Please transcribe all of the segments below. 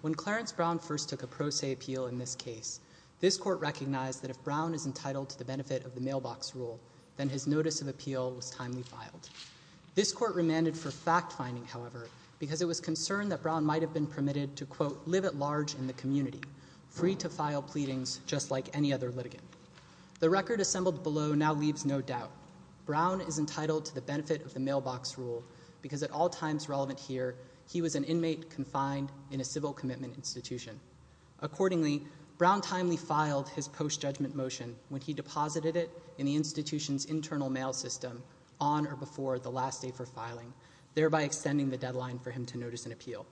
When Clarence Brown first took a pro se appeal in this case, this court recognized that if Brown is entitled to the benefit of the mailbox rule, then his notice of appeal was timely filed. This court remanded for fact-finding, however, because it was concerned that Brown might have been permitted to, quote, live at large in the community, free to file pleadings just like any other litigant. The record assembled below now leaves no doubt. Brown is entitled to the benefit of the mailbox rule because, at all times relevant here, he was an inmate confined in a civil commitment institution. Accordingly, Brown timely filed his post-judgment motion when he deposited it in the institution's internal mail system on or before the last day for filing, thereby extending the deadline for him to notice an appeal.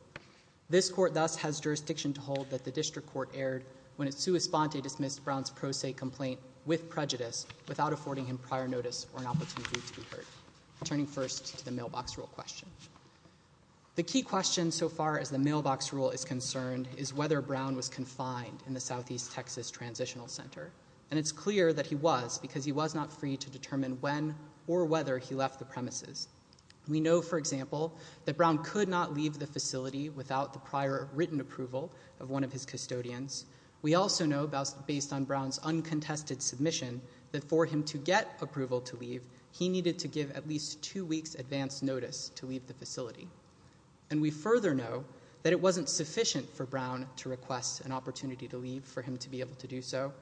This court thus has jurisdiction to hold that the district court erred when it sua sponte dismissed Brown's pro se complaint with prejudice without affording him prior notice or an opportunity to be heard. I'm turning first to the mailbox rule question. The key question so far as the mailbox rule is concerned is whether Brown was confined in the Southeast Texas Transitional Center, and it's clear that he was because he was not free to determine when or whether he left the premises. We know, for example, that Brown could not leave the facility without the prior written approval of one of his custodians. We also know, based on Brown's uncontested submission, that for him to get approval to leave, he needed to give at least two weeks' advance notice to leave the facility. And we further know that it wasn't sufficient for Brown to request an opportunity to leave for him to be able to do so,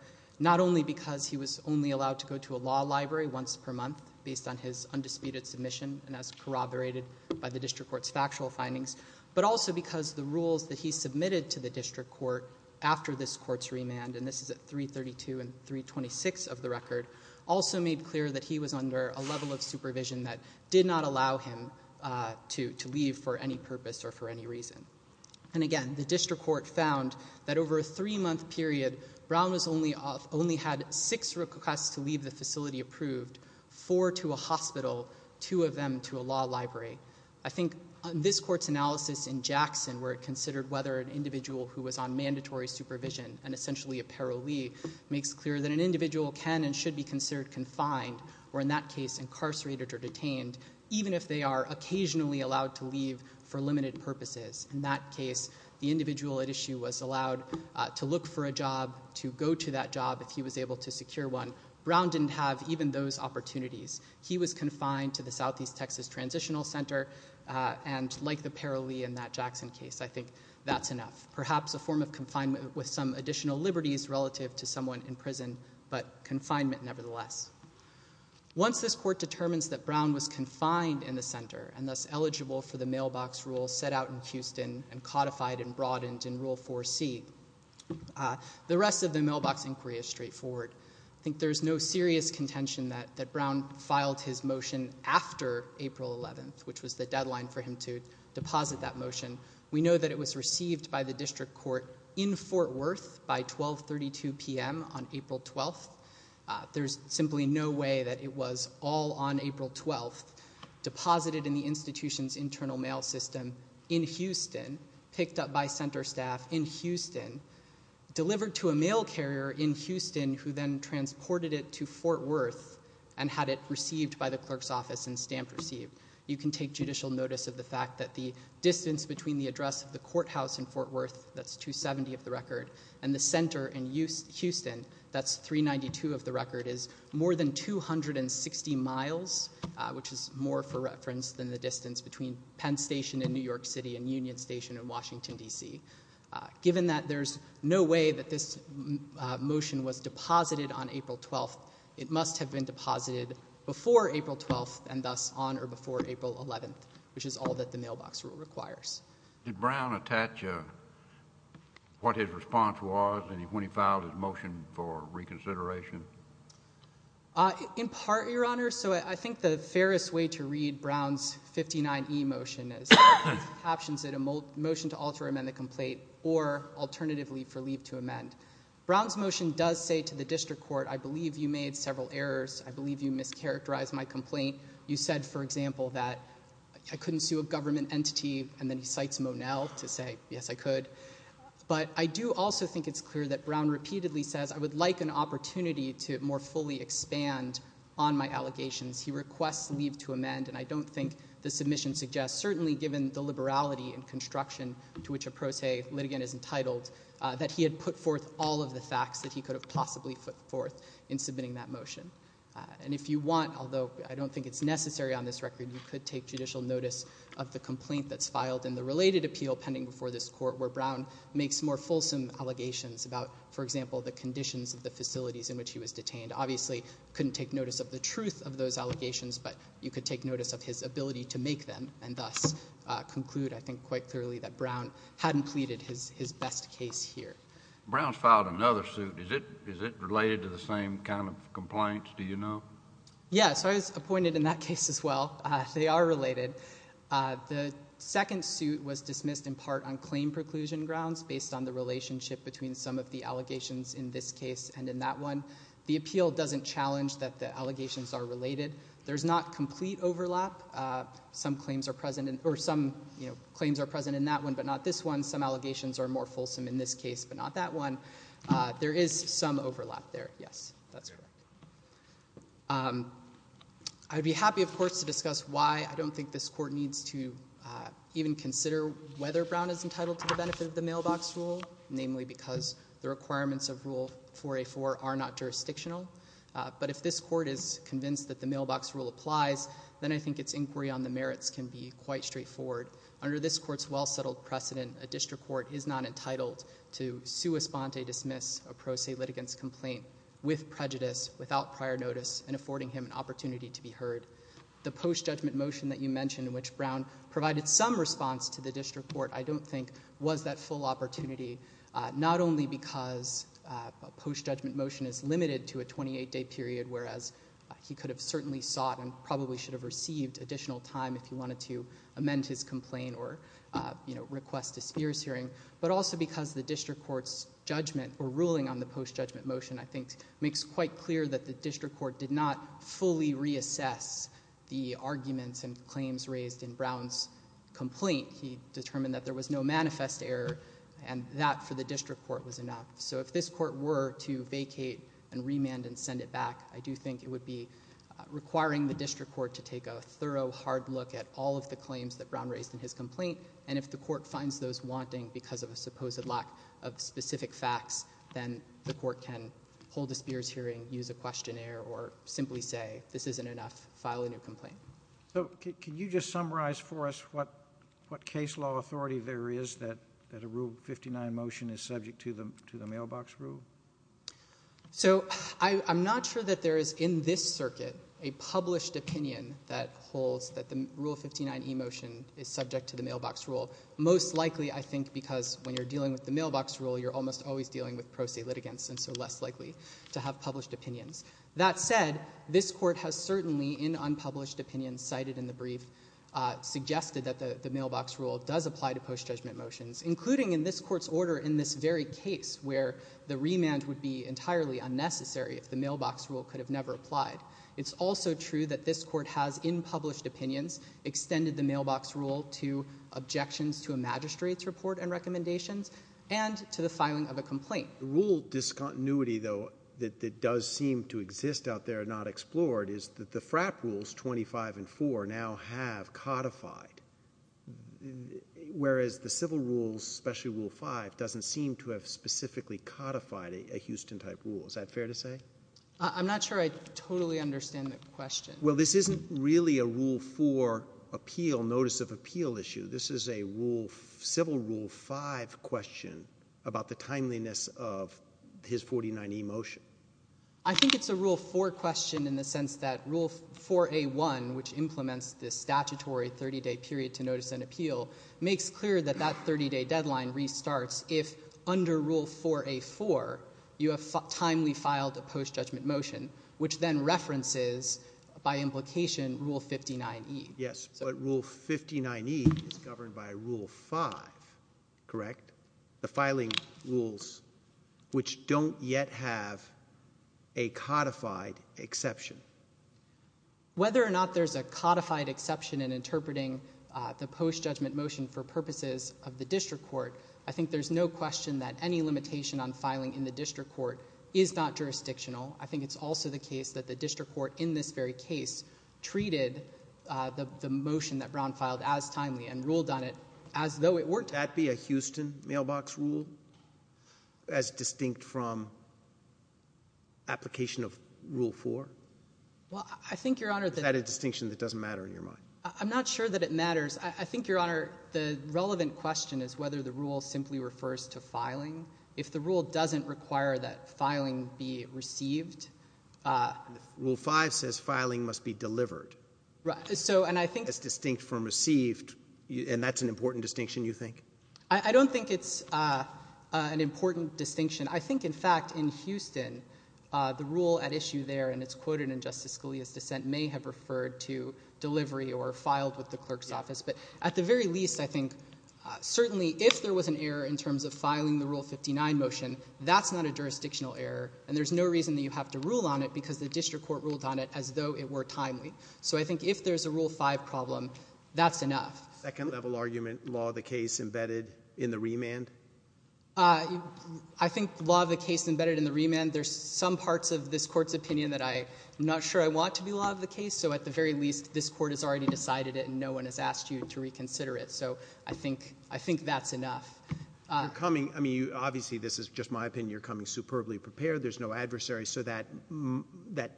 not only because he was only allowed to go to a law library once per month based on his undisputed submission and as corroborated by the district court's court after this court's remand, and this is at 332 and 326 of the record, also made clear that he was under a level of supervision that did not allow him to leave for any purpose or for any reason. And again, the district court found that over a three-month period, Brown only had six requests to leave the facility approved, four to a hospital, two of them to a law library. I think this court's analysis in Jackson, where it considered whether an individual who was on mandatory supervision, and essentially a parolee, makes clear that an individual can and should be considered confined, or in that case incarcerated or detained, even if they are occasionally allowed to leave for limited purposes. In that case, the individual at issue was allowed to look for a job, to go to that job if he was able to secure one. Brown didn't have even those opportunities. He was confined to the Southeast Texas Transitional Center, and like the parolee in that Jackson case, I think that's enough, perhaps a form of confinement with some additional liberties relative to someone in prison, but confinement nevertheless. Once this court determines that Brown was confined in the center, and thus eligible for the mailbox rule set out in Houston and codified and broadened in Rule 4C, the rest of the mailbox inquiry is straightforward. I think there's no serious contention that Brown filed his motion after April 11th, which was the deadline for him to deposit that motion. We know that it was received by the district court in Fort Worth by 12.32 p.m. on April 12th. There's simply no way that it was all on April 12th, deposited in the institution's internal mail system in Houston, picked up by center staff in Houston, delivered to a mail carrier in Houston, who then transported it to Fort Worth and had it received by the clerk's office and stamped received. You can take judicial notice of the fact that the distance between the address of the courthouse in Fort Worth, that's 270 of the record, and the center in Houston, that's 392 of the record, is more than 260 miles, which is more for reference than the distance between Penn Station in New York City and Union Station in Washington, D.C. Given that there's no way that this motion was deposited on April 12th, it must have been deposited before April 12th and thus on or before April 11th, which is all that the mailbox rule requires. Did Brown attach what his response was when he filed his motion for reconsideration? In part, Your Honor. So I think the fairest way to read Brown's 59E motion is that it captions it a motion to alter amend the complaint or alternatively for leave to amend. Brown's motion does say to the district court, I believe you made several errors. I believe you mischaracterized my complaint. You said, for example, that I couldn't sue a government entity, and then he cites Monell to say, yes, I could. But I do also think it's clear that Brown repeatedly says, I would like an opportunity to more fully expand on my allegations. He requests leave to amend, and I don't think the submission suggests, certainly given the to which a pro se litigant is entitled, that he had put forth all of the facts that he could have possibly put forth in submitting that motion. And if you want, although I don't think it's necessary on this record, you could take judicial notice of the complaint that's filed in the related appeal pending before this court where Brown makes more fulsome allegations about, for example, the conditions of the facilities in which he was detained. Obviously couldn't take notice of the truth of those allegations, but you could take notice of his ability to make them, and thus conclude, I think quite clearly, that Brown hadn't pleaded his best case here. Brown's filed another suit. Is it related to the same kind of complaints, do you know? Yes. I was appointed in that case as well. They are related. The second suit was dismissed in part on claim preclusion grounds based on the relationship between some of the allegations in this case and in that one. The appeal doesn't challenge that the allegations are related. There's not complete overlap. Some claims are present in that one, but not this one. Some allegations are more fulsome in this case, but not that one. There is some overlap there, yes, that's correct. I'd be happy, of course, to discuss why I don't think this court needs to even consider whether Brown is entitled to the benefit of the mailbox rule, namely because the requirements of Rule 4A4 are not jurisdictional. But if this court is convinced that the mailbox rule applies, then I think its inquiry on the merits can be quite straightforward. Under this court's well-settled precedent, a district court is not entitled to sua sponte dismiss a pro se litigant's complaint with prejudice, without prior notice, and affording him an opportunity to be heard. The post-judgment motion that you mentioned, in which Brown provided some response to the district court, I don't think was that full opportunity, not only because a post-judgment motion is limited to a 28-day period, whereas he could have certainly sought and probably should have received additional time if he wanted to amend his complaint or request a Spears hearing, but also because the district court's judgment or ruling on the post-judgment motion, I think, makes quite clear that the district court did not fully reassess the arguments and claims raised in Brown's complaint. He determined that there was no manifest error, and that, for the district court, was enough. So if this court were to vacate and remand and send it back, I do think it would be requiring the district court to take a thorough, hard look at all of the claims that Brown raised in his complaint, and if the court finds those wanting because of a supposed lack of specific facts, then the court can hold a Spears hearing, use a questionnaire, or simply say, this isn't enough, file a new complaint. So can you just summarize for us what case law authority there is that a Rule 59 motion is subject to the mailbox rule? So I'm not sure that there is, in this circuit, a published opinion that holds that the Rule 59 e-motion is subject to the mailbox rule. Most likely, I think, because when you're dealing with the mailbox rule, you're almost always dealing with pro se litigants, and so less likely to have published opinions. That said, this court has certainly, in unpublished opinions cited in the brief, suggested that the mailbox rule does apply to post-judgment motions, including in this court's order in this very case, where the remand would be entirely unnecessary if the mailbox rule could have never applied. It's also true that this court has, in published opinions, extended the mailbox rule to objections to a magistrate's report and recommendations, and to the filing of a complaint. Rule discontinuity, though, that does seem to exist out there, not explored, is that the FRAP Rules 25 and 4 now have codified, whereas the civil rules, especially Rule 5, doesn't seem to have specifically codified a Houston-type rule. Is that fair to say? I'm not sure I totally understand the question. Well, this isn't really a Rule 4 appeal, notice of appeal issue. This is a civil Rule 5 question about the timeliness of his 49 e-motion. I think it's a Rule 4 question in the sense that Rule 4A1, which implements this statutory 30-day period to notice an appeal, makes clear that that 30-day deadline restarts if, under Rule 4A4, you have timely filed a post-judgment motion, which then references, by implication, Rule 59E. Yes, but Rule 59E is governed by Rule 5, correct? The filing rules, which don't yet have a codified exception. Whether or not there's a codified exception in interpreting the post-judgment motion for purposes of the district court, I think there's no question that any limitation on filing in the district court is not jurisdictional. I think it's also the case that the district court, in this very case, treated the motion that Brown filed as timely and ruled on it as though it weren't. Could that be a Houston mailbox rule, as distinct from application of Rule 4? Is that a distinction that doesn't matter in your mind? I'm not sure that it matters. I think, Your Honor, the relevant question is whether the rule simply refers to filing. If the rule doesn't require that filing be received... Rule 5 says filing must be delivered. And I think... It's distinct from received, and that's an important distinction, you think? I don't think it's an important distinction. I think, in fact, in Houston, the rule at least in the case of the Siscalia's dissent may have referred to delivery or filed with the clerk's office. But at the very least, I think certainly if there was an error in terms of filing the Rule 59 motion, that's not a jurisdictional error, and there's no reason that you have to rule on it because the district court ruled on it as though it were timely. So I think if there's a Rule 5 problem, that's enough. Second-level argument, law of the case embedded in the remand? I think law of the case embedded in the remand, there's some parts of this Court's structure I want to be law of the case, so at the very least, this Court has already decided it, and no one has asked you to reconsider it. So I think that's enough. You're coming... I mean, obviously, this is just my opinion. You're coming superbly prepared. There's no adversary. So that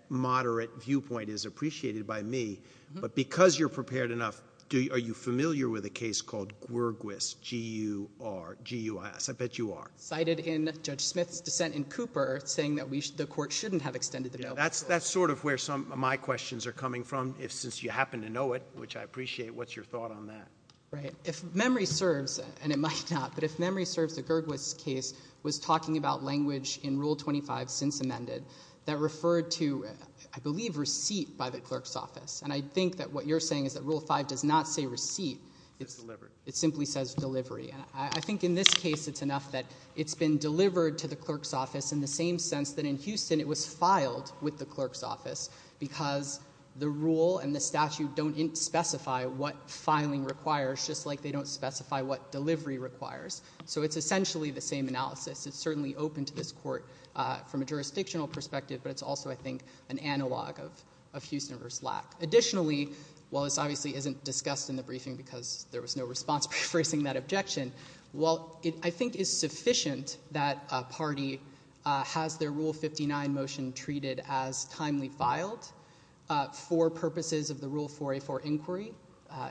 moderate viewpoint is appreciated by me. But because you're prepared enough, are you familiar with a case called Gwergwis, G-U-R, G-U-S? I bet you are. Cited in Judge Smith's dissent in Cooper, saying that the Court shouldn't have extended the bill. That's sort of where some of my questions are coming from, since you happen to know it, which I appreciate. What's your thought on that? Right. If memory serves, and it might not, but if memory serves, the Gwergwis case was talking about language in Rule 25 since amended that referred to, I believe, receipt by the clerk's office. And I think that what you're saying is that Rule 5 does not say receipt. It simply says delivery. And I think in this case, it's enough that it's been delivered to the clerk's office in the same sense that in Houston, it was filed with the clerk's office because the rule and the statute don't specify what filing requires, just like they don't specify what delivery requires. So it's essentially the same analysis. It's certainly open to this Court from a jurisdictional perspective, but it's also, I think, an analog of Houston v. Lack. Additionally, while this obviously isn't discussed in the briefing because there was no response facing that objection, while it, I think, is sufficient that a party has their Rule 59 motion treated as timely filed for purposes of the Rule 4A4 inquiry,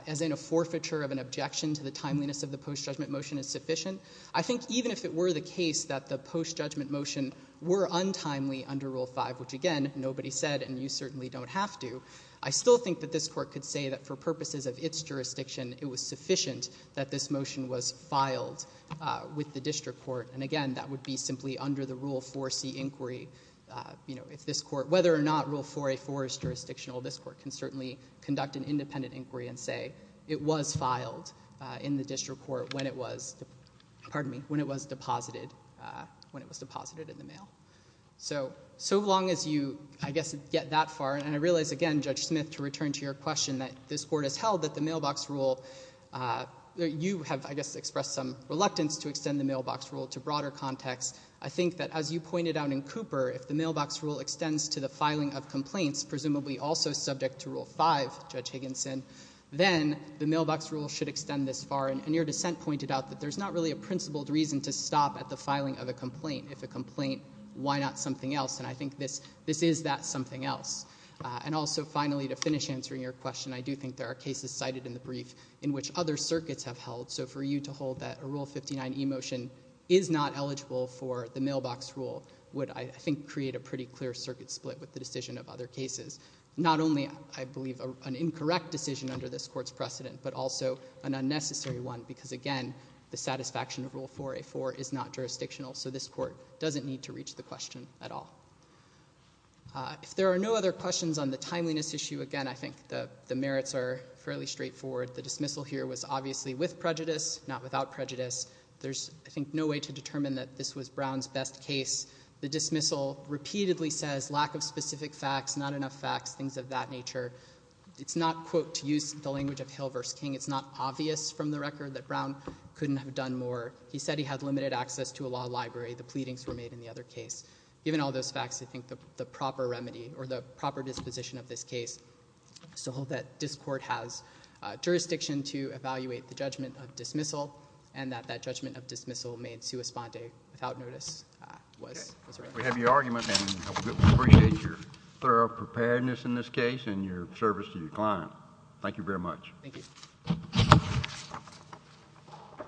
as in a forfeiture of an objection to the timeliness of the post-judgment motion is sufficient, I think even if it were the case that the post-judgment motion were untimely under Rule 5, which, again, nobody said, and you certainly don't have to, I still think that this Court could say that for purposes of its jurisdiction, it was sufficient that this motion was filed with the district court, and again, that would be simply under the Rule 4C inquiry. If this Court, whether or not Rule 4A4 is jurisdictional, this Court can certainly conduct an independent inquiry and say it was filed in the district court when it was deposited in the mail. So long as you, I guess, get that far, and I realize, again, Judge Smith, to return to your question that this Court has held that the mailbox rule, you have, I guess, expressed some reluctance to extend the mailbox rule to broader context. I think that, as you pointed out in Cooper, if the mailbox rule extends to the filing of complaints, presumably also subject to Rule 5, Judge Higginson, then the mailbox rule should extend this far, and your dissent pointed out that there's not really a principled reason to stop at the filing of a complaint. If a complaint, why not something else? And I think this is that something else. And also, finally, to finish answering your question, I do think there are cases cited in the brief in which other circuits have held, so for you to hold that a Rule 59e motion is not eligible for the mailbox rule would, I think, create a pretty clear circuit split with the decision of other cases. Not only, I believe, an incorrect decision under this Court's precedent, but also an unnecessary one, because, again, the satisfaction of Rule 4A4 is not jurisdictional, so this Court doesn't need to reach the question at all. If there are no other questions on the timeliness issue, again, I think the merits are fairly straightforward. The dismissal here was obviously with prejudice, not without prejudice. There's, I think, no way to determine that this was Brown's best case. The dismissal repeatedly says lack of specific facts, not enough facts, things of that nature. It's not, quote, to use the language of Hill versus King. It's not obvious from the record that Brown couldn't have done more. He said he had limited access to a law library. The pleadings were made in the other case. Given all those facts, I think the proper remedy, or the proper disposition of this case is to hold that this Court has jurisdiction to evaluate the judgment of dismissal and that that judgment of dismissal made sua sponde without notice was right. We have your argument, and we appreciate your thorough preparedness in this case and your service to your client. Thank you very much. Thank you.